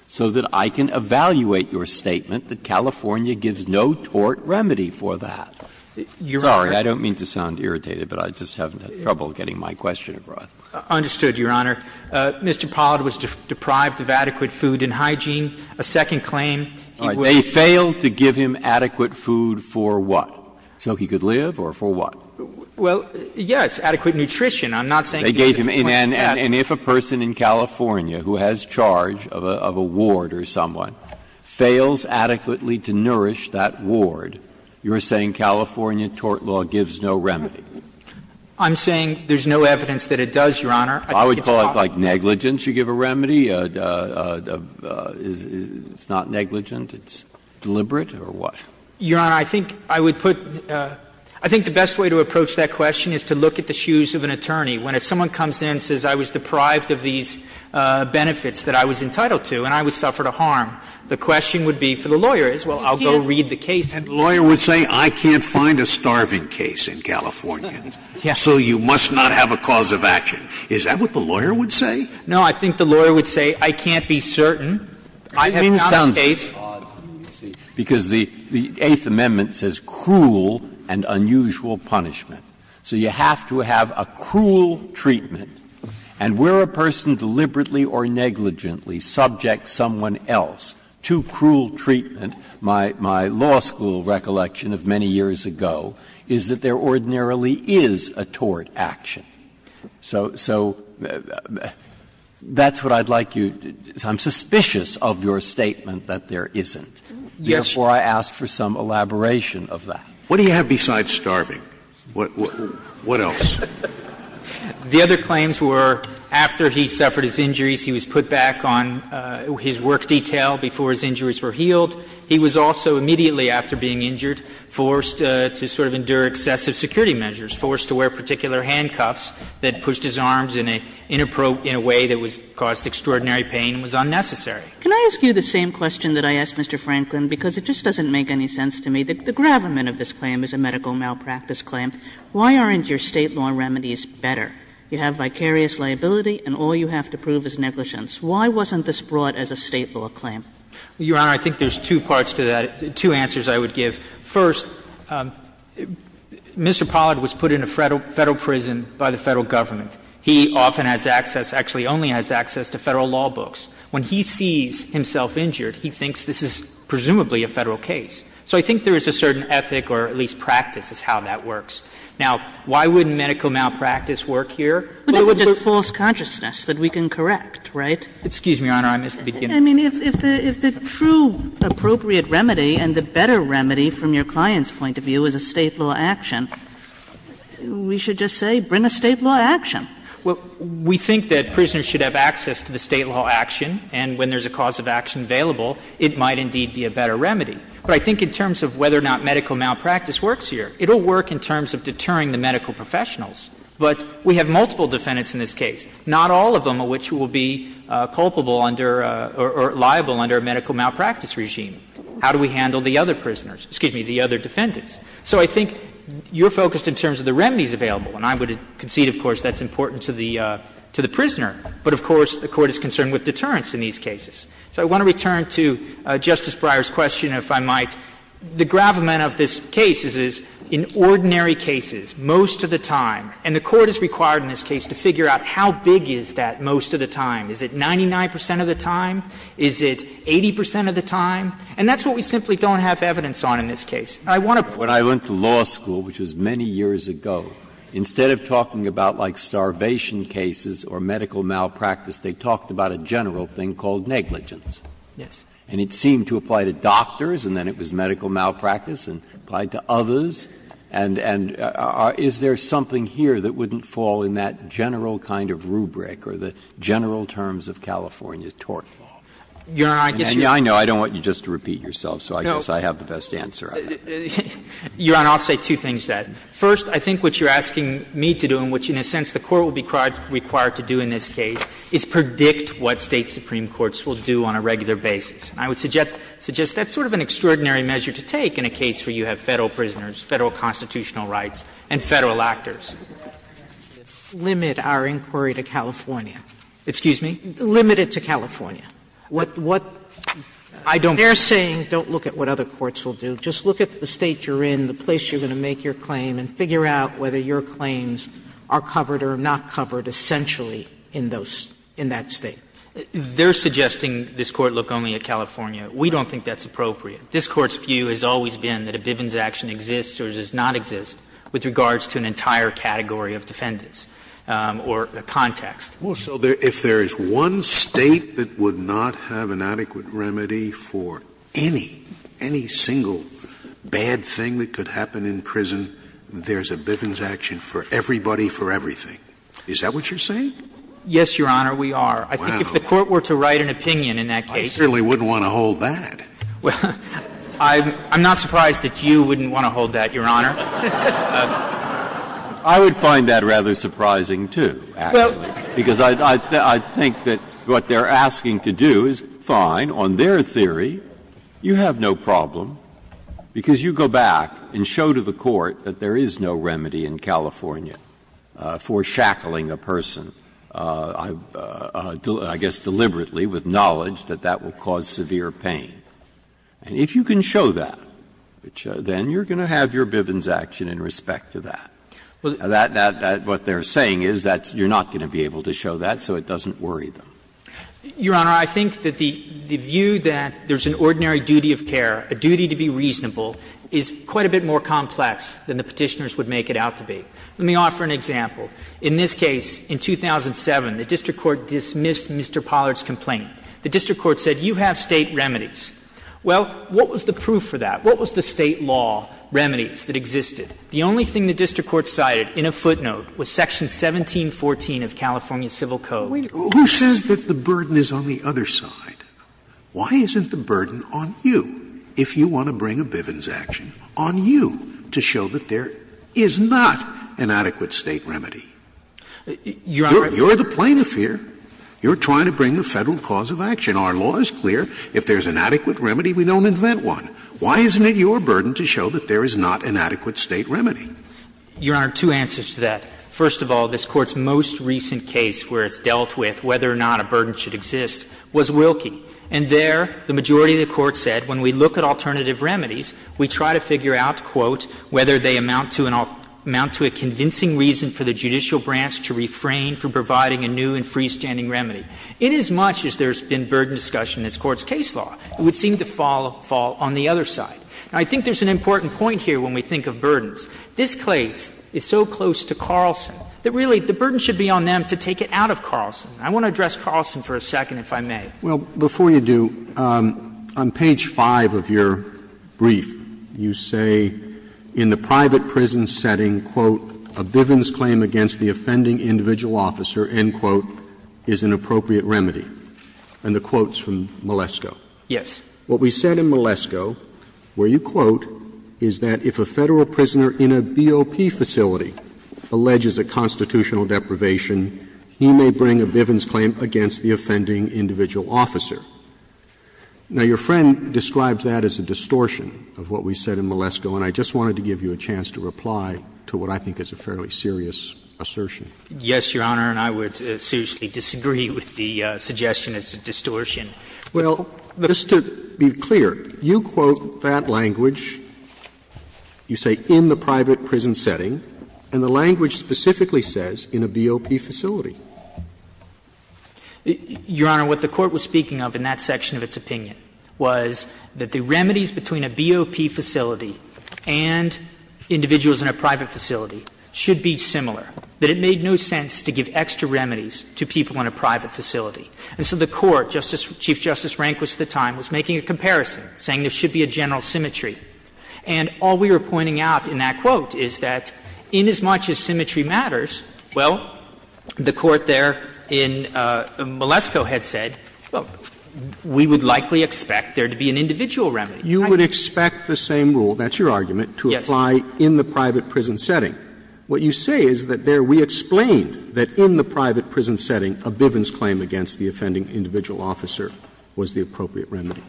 so that I can evaluate your statement that California gives no tort remedy for that. Sorry, I don't mean to sound irritated, but I just haven't had trouble getting my question across. Understood, Your Honor. Mr. Pollard was deprived of adequate food and hygiene. A second claim, he was ---- They failed to give him adequate food for what? So he could live or for what? Well, yes, adequate nutrition. I'm not saying he was a ---- And if a person in California who has charge of a ward or someone fails adequately to nourish that ward, you're saying California tort law gives no remedy? I'm saying there's no evidence that it does, Your Honor. I would call it like negligence you give a remedy. It's not negligent. It's deliberate or what? Your Honor, I think I would put ---- I think the best way to approach that question is to look at the shoes of an attorney. When someone comes in and says I was deprived of these benefits that I was entitled to and I suffered a harm, the question would be for the lawyer is, well, I'll go read the case. And the lawyer would say I can't find a starving case in California, so you must not have a cause of action. Is that what the lawyer would say? No, I think the lawyer would say I can't be certain. Breyer, I mean, it sounds odd, because the Eighth Amendment says cruel and unusual punishment. So you have to have a cruel treatment, and where a person deliberately or negligently subjects someone else to cruel treatment, my law school recollection of many years ago, is that there ordinarily is a tort action. So that's what I'd like you to do. I'm suspicious of your statement that there isn't. Therefore, I ask for some elaboration of that. Scalia. What do you have besides starving? What else? The other claims were after he suffered his injuries, he was put back on his work detail before his injuries were healed. He was also immediately after being injured forced to sort of endure excessive security measures, forced to wear particular handcuffs that pushed his arms in a way that caused extraordinary pain and was unnecessary. Can I ask you the same question that I asked Mr. Franklin, because it just doesn't make any sense to me. The gravamen of this claim is a medical malpractice claim. Why aren't your State law remedies better? You have vicarious liability, and all you have to prove is negligence. Why wasn't this brought as a State law claim? Your Honor, I think there's two parts to that, two answers I would give. First, Mr. Pollard was put in a Federal prison by the Federal Government. He often has access, actually only has access to Federal law books. When he sees himself injured, he thinks this is presumably a Federal case. So I think there is a certain ethic or at least practice as how that works. Now, why wouldn't medical malpractice work here? But it would look like false consciousness that we can correct, right? Excuse me, Your Honor. I missed the beginning. I mean, if the true appropriate remedy and the better remedy from your client's point of view is a State law action, we should just say bring a State law action. Well, we think that prisoners should have access to the State law action, and when there's a cause of action available, it might indeed be a better remedy. But I think in terms of whether or not medical malpractice works here, it will work in terms of deterring the medical professionals. But we have multiple defendants in this case, not all of them of which will be culpable under or liable under a medical malpractice regime. How do we handle the other prisoners? Excuse me, the other defendants. So I think you're focused in terms of the remedies available, and I would concede, of course, that's important to the prisoner. But, of course, the Court is concerned with deterrence in these cases. So I want to return to Justice Breyer's question, if I might. The gravamen of this case is, in ordinary cases, most of the time, and the Court is required in this case to figure out how big is that most of the time. Is it 99 percent of the time? Is it 80 percent of the time? And that's what we simply don't have evidence on in this case. I want to put it this way. Breyer. When I went to law school, which was many years ago, instead of talking about, like, starvation cases or medical malpractice, they talked about a general thing called negligence. Yes. And it seemed to apply to doctors, and then it was medical malpractice, and it applied to others, and is there something here that wouldn't fall in that general kind of rubric or the general terms of California tort law? And I know I don't want you just to repeat yourself, so I guess I have the best answer on that. Your Honor, I'll say two things to that. First, I think what you're asking me to do, and which in a sense the Court will be required to do in this case, is predict what State supreme courts will do on a regular basis. And I would suggest that's sort of an extraordinary measure to take in a case where you have Federal prisoners, Federal constitutional rights, and Federal actors. Sotomayor, limit our inquiry to California. Excuse me? Limit it to California. What they're saying, don't look at what other courts will do. Just look at the State you're in, the place you're going to make your claim, and figure out whether your claims are covered or not covered essentially in that State. They're suggesting this Court look only at California. We don't think that's appropriate. This Court's view has always been that a Bivens action exists or does not exist with regards to an entire category of defendants or context. Scalia, if there is one State that would not have an adequate remedy for any, any single bad thing that could happen in prison, there's a Bivens action for everybody, for everything. Is that what you're saying? Yes, Your Honor, we are. I think if the Court were to write an opinion in that case. I certainly wouldn't want to hold that. Well, I'm not surprised that you wouldn't want to hold that, Your Honor. I would find that rather surprising, too, actually, because I think that what they're asking to do is fine on their theory. You have no problem, because you go back and show to the Court that there is no remedy in California for shackling a person, I guess deliberately, with knowledge that that will cause severe pain. And if you can show that, then you're going to have your Bivens action in respect to that. What they're saying is that you're not going to be able to show that, so it doesn't worry them. Your Honor, I think that the view that there's an ordinary duty of care, a duty to be reasonable, is quite a bit more complex than the Petitioners would make it out to be. Let me offer an example. In this case, in 2007, the district court dismissed Mr. Pollard's complaint. The district court said, you have State remedies. Well, what was the proof for that? What was the State law remedies that existed? The only thing the district court cited in a footnote was section 1714 of California Civil Code. Scalia. Who says that the burden is on the other side? Why isn't the burden on you, if you want to bring a Bivens action, on you to show that there is not an adequate State remedy? You're the plaintiff here. You're trying to bring a Federal cause of action. Our law is clear. If there's an adequate remedy, we don't invent one. Why isn't it your burden to show that there is not an adequate State remedy? Your Honor, two answers to that. First of all, this Court's most recent case where it's dealt with whether or not a burden should exist was Wilkie. And there, the majority of the Court said, when we look at alternative remedies, we try to figure out, quote, Now, I think there's an important point here when we think of burdens. This case is so close to Carlson that, really, the burden should be on them to take it out of Carlson. I want to address Carlson for a second, if I may. Well, before you do, on page 5 of your brief, you say in your brief that, quote, In the private prison setting, quote, a Bivens claim against the offending individual officer, end quote, is an appropriate remedy. And the quote's from Malesko. Yes. What we said in Malesko, where you quote, Now, your friend describes that as a distortion of what we said in Malesko, and I just wanted to give you a little bit of context. And then I'll give you a chance to reply to what I think is a fairly serious assertion. Yes, Your Honor, and I would seriously disagree with the suggestion it's a distortion. Well, just to be clear, you quote that language, you say in the private prison setting, and the language specifically says in a BOP facility. Your Honor, what the Court was speaking of in that section of its opinion was that the remedies between a BOP facility and individuals in a private facility should be similar, that it made no sense to give extra remedies to people in a private facility. And so the Court, Chief Justice Rehnquist at the time, was making a comparison, saying there should be a general symmetry. And all we were pointing out in that quote is that inasmuch as symmetry matters, well, the Court there in Malesko had said, well, we would likely expect there to be an individual remedy. You would expect the same rule, that's your argument, to apply in the private prison setting. What you say is that there we explained that in the private prison setting, a Bivens claim against the offending individual officer was the appropriate remedy.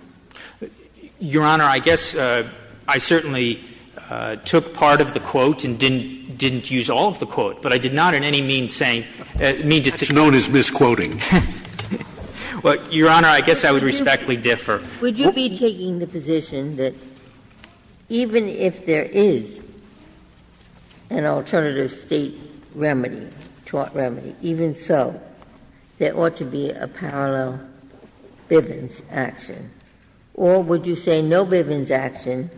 Your Honor, I guess I certainly took part of the quote and didn't use all of the quote, but I did not in any mean saying, mean decision. That's known as misquoting. Well, Your Honor, I guess I would respectfully differ. Would you be taking the position that even if there is an alternative State remedy, tort remedy, even so, there ought to be a parallel Bivens action? Or would you say no Bivens action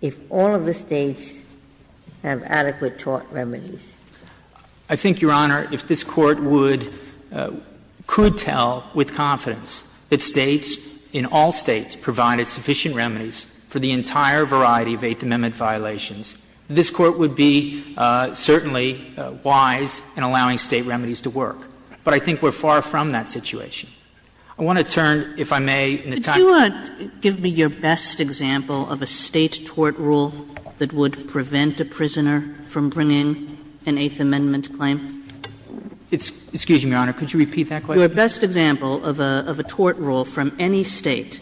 if all of the States have adequate tort remedies? I think, Your Honor, if this Court would — could tell with confidence that States in all States provided sufficient remedies for the entire variety of Eighth Amendment violations, this Court would be certainly wise in allowing State remedies to work. But I think we're far from that situation. I want to turn, if I may, in the time. Kagan. Do you want to give me your best example of a State tort rule that would prevent a prisoner from bringing an Eighth Amendment claim? Excuse me, Your Honor. Could you repeat that question? Your best example of a tort rule from any State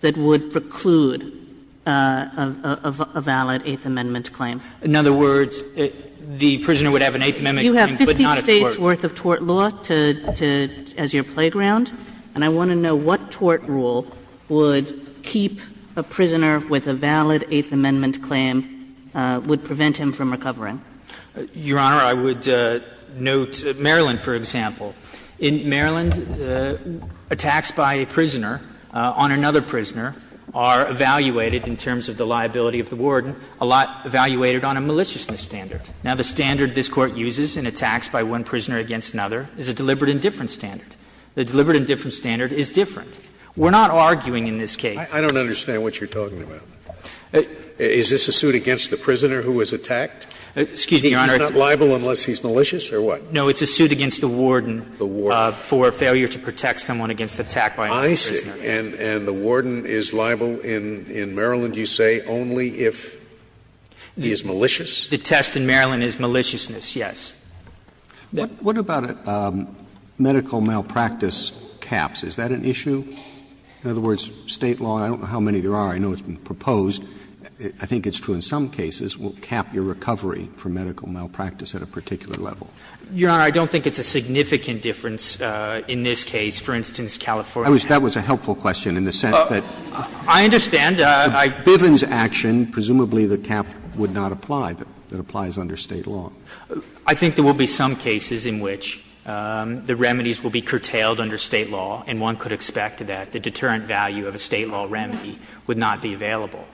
that would preclude a valid Eighth Amendment claim. In other words, the prisoner would have an Eighth Amendment claim but not a tort. You have 50 States' worth of tort law to — as your playground, and I want to know what tort rule would keep a prisoner with a valid Eighth Amendment claim, would prevent him from recovering. Your Honor, I would note Maryland, for example. In Maryland, attacks by a prisoner on another prisoner are evaluated in terms of the liability of the warden, a lot evaluated on a maliciousness standard. Now, the standard this Court uses in attacks by one prisoner against another is a deliberate indifference standard. The deliberate indifference standard is different. We're not arguing in this case. I don't understand what you're talking about. Is this a suit against the prisoner who was attacked? Excuse me, Your Honor. He's not liable unless he's malicious or what? No, it's a suit against the warden for failure to protect someone against attack by another prisoner. And the warden is liable in Maryland, you say, only if he is malicious? The test in Maryland is maliciousness, yes. What about medical malpractice caps? Is that an issue? In other words, State law, I don't know how many there are. I know it's been proposed. I think it's true in some cases will cap your recovery for medical malpractice at a particular level. Your Honor, I don't think it's a significant difference in this case, for instance, California. Roberts, that was a helpful question in the sense that the Bivens action, presumably the cap would not apply, but it applies under State law. I think there will be some cases in which the remedies will be curtailed under State law, and one could expect that the deterrent value of a State law remedy would not be available.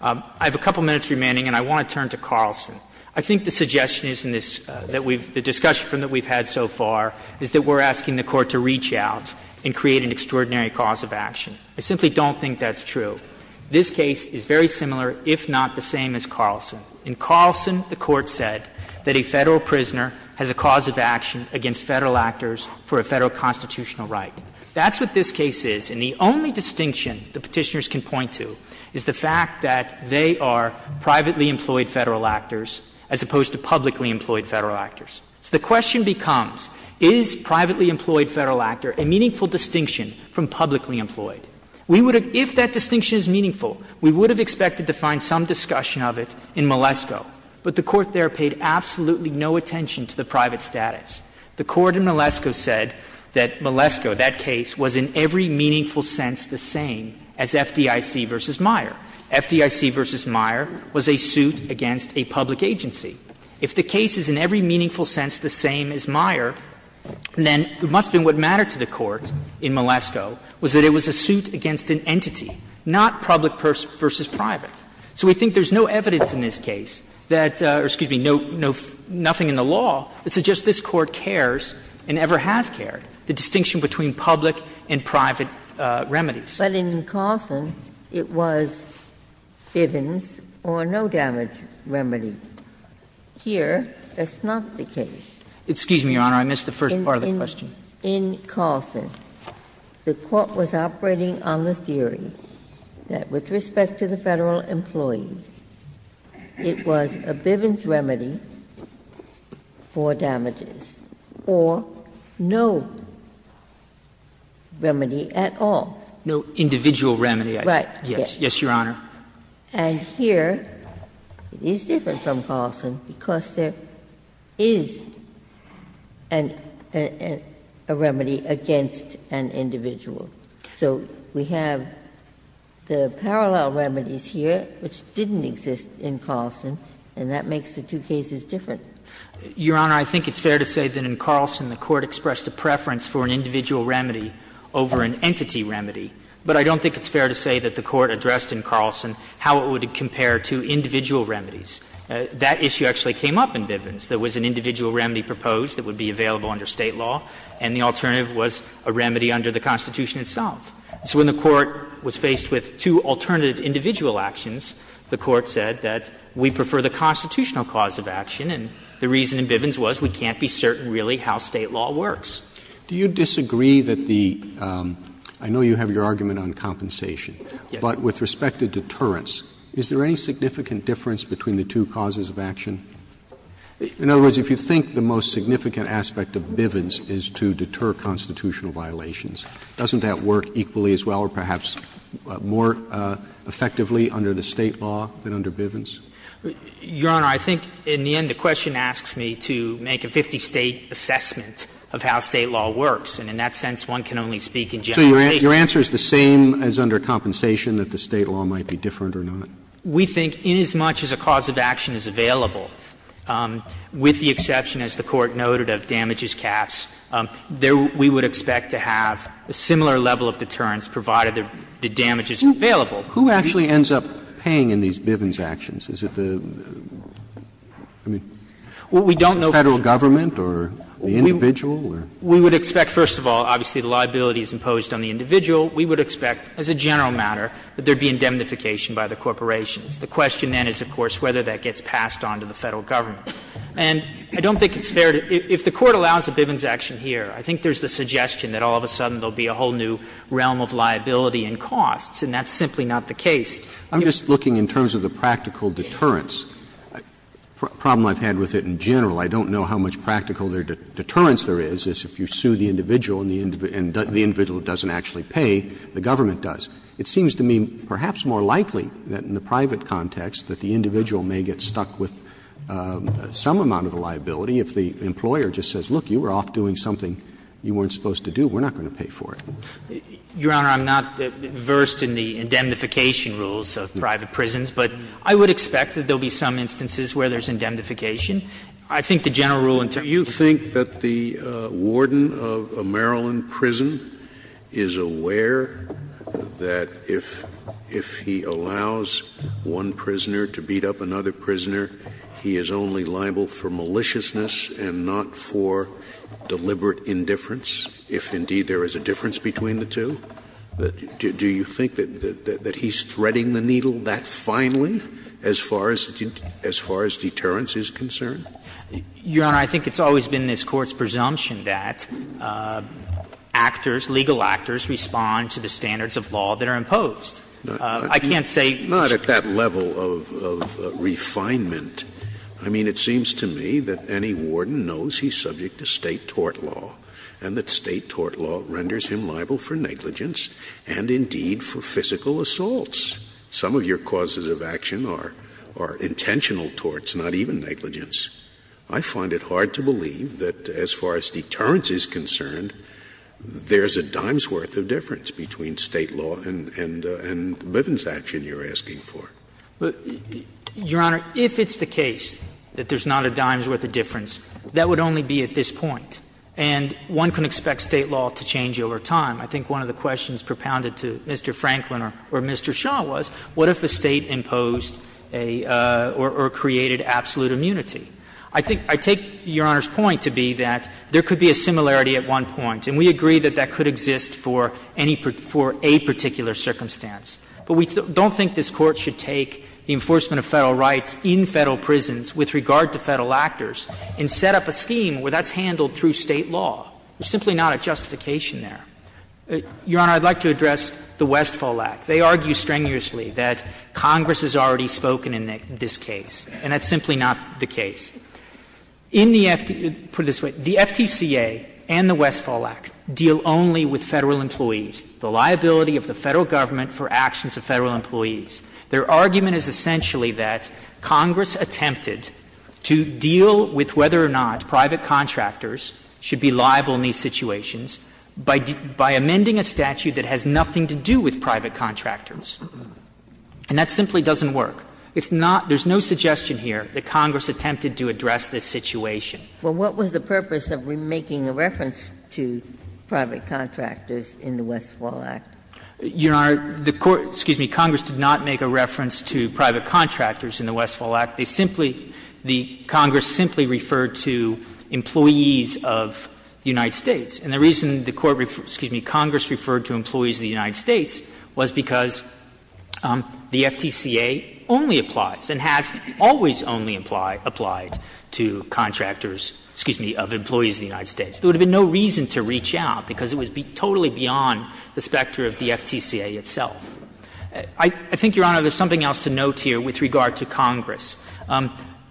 I have a couple minutes remaining, and I want to turn to Carlson. I think the suggestion is in this that we've the discussion that we've had so far is that we're asking the Court to reach out and create an extraordinary cause of action. I simply don't think that's true. This case is very similar, if not the same, as Carlson. In Carlson, the Court said that a Federal prisoner has a cause of action against Federal actors for a Federal constitutional right. That's what this case is, and the only distinction the Petitioners can point to is the fact that they are privately employed Federal actors as opposed to publicly employed Federal actors. So the question becomes, is privately employed Federal actor a meaningful distinction from publicly employed? We would have — if that distinction is meaningful, we would have expected to find some discussion of it in Malesko, but the Court there paid absolutely no attention to the private status. The Court in Malesko said that Malesko, that case, was in every meaningful sense the same as FDIC v. Meyer. FDIC v. Meyer was a suit against a public agency. If the case is in every meaningful sense the same as Meyer, then it must have been what mattered to the Court in Malesko, was that it was a suit against an entity, not public versus private. So we think there's no evidence in this case that — or, excuse me, nothing in the law that suggests this Court cares and ever has cared, the distinction between public and private remedies. But in Carlson, it was Bivens or no damage remedy. Here, that's not the case. Excuse me, Your Honor, I missed the first part of the question. In Carlson, the Court was operating on the theory that with respect to the Federal employee, it was a Bivens remedy for damages, or no remedy at all. No individual remedy. Right. Yes. Yes, Your Honor. And here, it is different from Carlson because there is a remedy against an individual. So we have the parallel remedies here, which didn't exist in Carlson, and that makes the two cases different. Your Honor, I think it's fair to say that in Carlson the Court expressed a preference for an individual remedy over an entity remedy, but I don't think it's fair to say that the Court addressed in Carlson how it would compare to individual remedies. That issue actually came up in Bivens. There was an individual remedy proposed that would be available under State law, and the alternative was a remedy under the Constitution itself. So when the Court was faced with two alternative individual actions, the Court said that we prefer the constitutional cause of action, and the reason in Bivens was we can't be certain really how State law works. Do you disagree that the — I know you have your argument on compensation. Yes. But with respect to deterrence, is there any significant difference between the two causes of action? In other words, if you think the most significant aspect of Bivens is to deter constitutional violations, doesn't that work equally as well or perhaps more effectively under the State law than under Bivens? Your Honor, I think in the end the question asks me to make a 50-State assessment of how State law works, and in that sense, one can only speak in generalization. So your answer is the same as under compensation, that the State law might be different or not? We think inasmuch as a cause of action is available, with the exception, as the Court noted, of damages caps, there we would expect to have a similar level of deterrence provided the damage is available. Who actually ends up paying in these Bivens actions? Is it the, I mean, Federal government or the individual? We would expect, first of all, obviously, the liability is imposed on the individual. We would expect, as a general matter, that there would be indemnification by the corporations. The question then is, of course, whether that gets passed on to the Federal government. And I don't think it's fair to — if the Court allows a Bivens action here, I think there's the suggestion that all of a sudden there will be a whole new realm of liability and costs, and that's simply not the case. I'm just looking in terms of the practical deterrence. A problem I've had with it in general, I don't know how much practical deterrence there is, is if you sue the individual and the individual doesn't actually pay, the government does. It seems to me perhaps more likely that in the private context that the individual may get stuck with some amount of the liability if the employer just says, look, you were off doing something you weren't supposed to do, we're not going to pay for it. Your Honor, I'm not versed in the indemnification rules of private prisons, but I would expect that there will be some instances where there's indemnification. I think the general rule in terms of the Federal government is that the Federal Scalia. Scalia. Scalia. The question is, if the warden of a Maryland prison is aware that if he allows one prisoner to beat up another prisoner, he is only liable for maliciousness and not for deliberate indifference, if indeed there is a difference between the two, do you think that he's threading the needle that finely as far as deterrence is concerned? Your Honor, I think it's always been this Court's presumption that actors, legal actors, respond to the standards of law that are imposed. I can't say. Not at that level of refinement. I mean, it seems to me that any warden knows he's subject to State tort law, and that State tort law renders him liable for negligence and indeed for physical assaults. Some of your causes of action are intentional torts, not even negligence. I find it hard to believe that as far as deterrence is concerned, there's a dime's worth of difference between State law and Bivens action you're asking for. Your Honor, if it's the case that there's not a dime's worth of difference, that would only be at this point. And one can expect State law to change over time. I think one of the questions propounded to Mr. Franklin or Mr. Shah was, what if a State imposed a or created absolute immunity? I think — I take Your Honor's point to be that there could be a similarity at one point, and we agree that that could exist for any — for a particular circumstance. But we don't think this Court should take the enforcement of Federal rights in Federal prisons with regard to Federal actors and set up a scheme where that's handled through State law. There's simply not a justification there. Your Honor, I'd like to address the Westfall Act. They argue strenuously that Congress has already spoken in this case, and that's simply not the case. In the — put it this way. The FTCA and the Westfall Act deal only with Federal employees. The liability of the Federal government for actions of Federal employees. Their argument is essentially that Congress attempted to deal with whether or not by amending a statute that has nothing to do with private contractors. And that simply doesn't work. It's not — there's no suggestion here that Congress attempted to address this situation. Well, what was the purpose of making a reference to private contractors in the Westfall Act? Your Honor, the Court — excuse me, Congress did not make a reference to private contractors in the Westfall Act. They simply — the Congress simply referred to employees of the United States. And the reason the Court — excuse me, Congress referred to employees of the United States was because the FTCA only applies and has always only applied to contractors, excuse me, of employees of the United States. There would have been no reason to reach out, because it would be totally beyond the specter of the FTCA itself. I think, Your Honor, there's something else to note here with regard to Congress.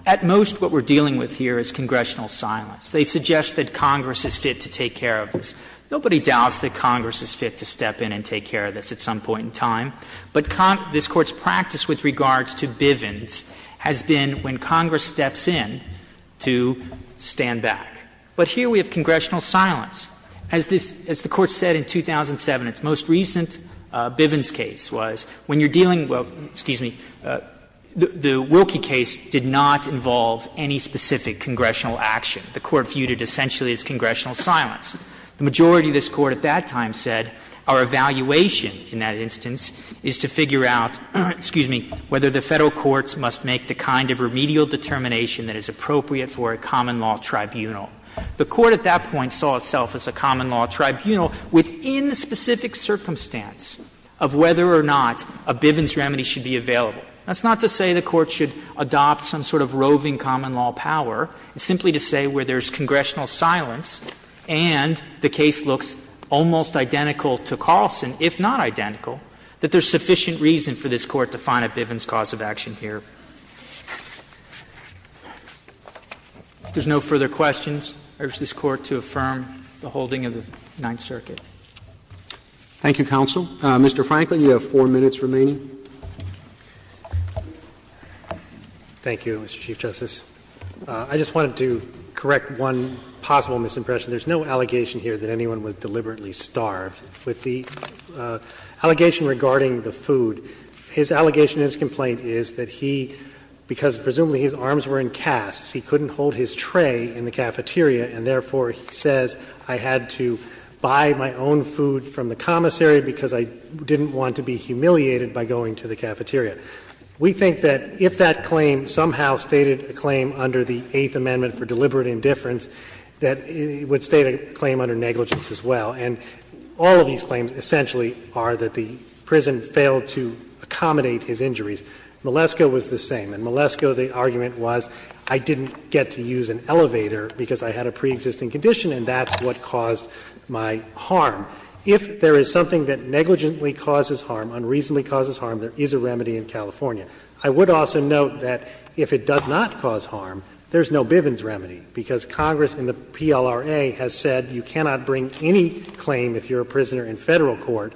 At most, what we're dealing with here is congressional silence. They suggest that Congress is fit to take care of this. Nobody doubts that Congress is fit to step in and take care of this at some point in time. But this Court's practice with regards to Bivens has been when Congress steps in to stand back. But here we have congressional silence. As this — as the Court said in 2007, its most recent Bivens case was, when you're dealing — well, excuse me, the Wilkie case did not involve any specific congressional action. The Court viewed it essentially as congressional silence. The majority of this Court at that time said our evaluation in that instance is to figure out, excuse me, whether the Federal courts must make the kind of remedial determination that is appropriate for a common law tribunal. The Court at that point saw itself as a common law tribunal within the specific circumstance of whether or not a Bivens remedy should be available. That's not to say the Court should adopt some sort of roving common law power. It's simply to say where there's congressional silence and the case looks almost identical to Carlson, if not identical, that there's sufficient reason for this Court to find a Bivens cause of action here. If there's no further questions, I urge this Court to affirm the holding of the Ninth Circuit. Roberts. Thank you, counsel. Mr. Franklin, you have four minutes remaining. Thank you, Mr. Chief Justice. I just wanted to correct one possible misimpression. There's no allegation here that anyone was deliberately starved. With the allegation regarding the food, his allegation in his complaint is that he, because presumably his arms were in casts, he couldn't hold his tray in the cafeteria, and therefore he says, I had to buy my own food from the commissary because I didn't want to be humiliated by going to the cafeteria. We think that if that claim somehow stated a claim under the Eighth Amendment for deliberate indifference, that it would state a claim under negligence as well. And all of these claims essentially are that the prison failed to accommodate his injuries. Malesko was the same, and Malesko, the argument was, I didn't get to use an elevator because I had a preexisting condition, and that's what caused my harm. If there is something that negligently causes harm, unreasonably causes harm, there is a remedy in California. I would also note that if it does not cause harm, there's no Bivens remedy, because Congress in the PLRA has said you cannot bring any claim if you're a prisoner in Federal court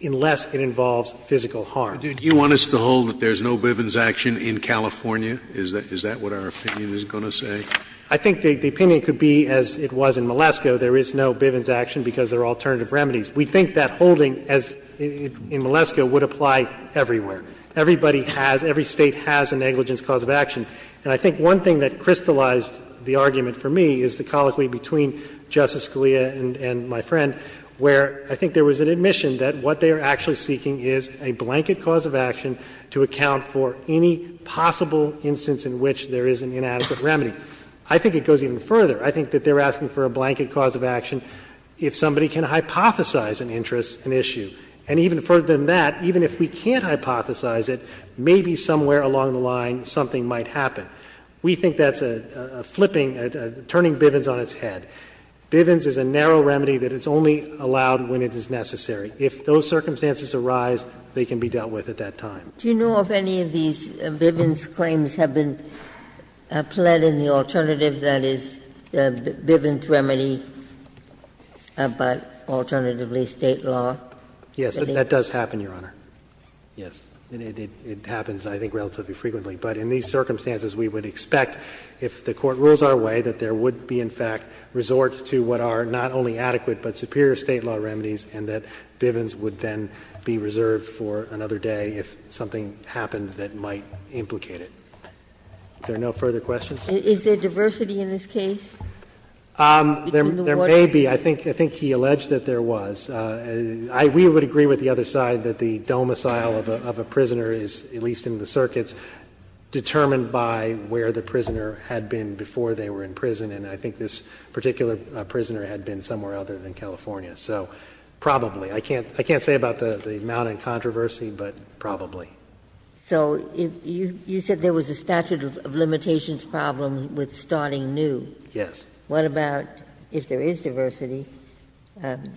unless it involves physical harm. Scalia. Do you want us to hold that there's no Bivens action in California? Is that what our opinion is going to say? I think the opinion could be, as it was in Malesko, there is no Bivens action because there are alternative remedies. We think that holding, as in Malesko, would apply everywhere. Everybody has, every State has a negligence cause of action. And I think one thing that crystallized the argument for me is the colloquy between Justice Scalia and my friend, where I think there was an admission that what they are actually seeking is a blanket cause of action to account for any possible instance in which there is an inadequate remedy. I think it goes even further. I think that they are asking for a blanket cause of action if somebody can hypothesize an interest, an issue. And even further than that, even if we can't hypothesize it, maybe somewhere along the line something might happen. We think that's a flipping, a turning Bivens on its head. Bivens is a narrow remedy that is only allowed when it is necessary. If those circumstances arise, they can be dealt with at that time. Ginsburg Do you know if any of these Bivens claims have been pled in the alternative, that is, Bivens remedy, but alternatively State law? Katyal Yes. That does happen, Your Honor. Yes. It happens, I think, relatively frequently. But in these circumstances, we would expect, if the Court rules our way, that there would be, in fact, resort to what are not only adequate but superior State law remedies, and that Bivens would then be reserved for another day if something happened that might implicate it. Are there no further questions? Ginsburg Is there diversity in this case? Katyal There may be. I think he alleged that there was. We would agree with the other side that the domicile of a prisoner is, at least in the circuits, determined by where the prisoner had been before they were in prison. And I think this particular prisoner had been somewhere other than California. So probably. I can't say about the amount in controversy, but probably. Ginsburg So you said there was a statute of limitations problem with starting new. Katyal Yes. Ginsburg What about if there is diversity? Katyal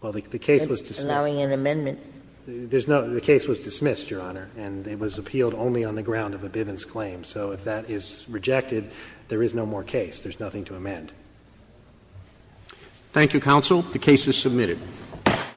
Well, the case was dismissed. Ginsburg Allowing an amendment. Katyal There's no the case was dismissed, Your Honor, and it was appealed only on the ground of a Bivens claim. So if that is rejected, there is no more case. There's nothing to amend. Roberts Thank you, counsel. The case is submitted.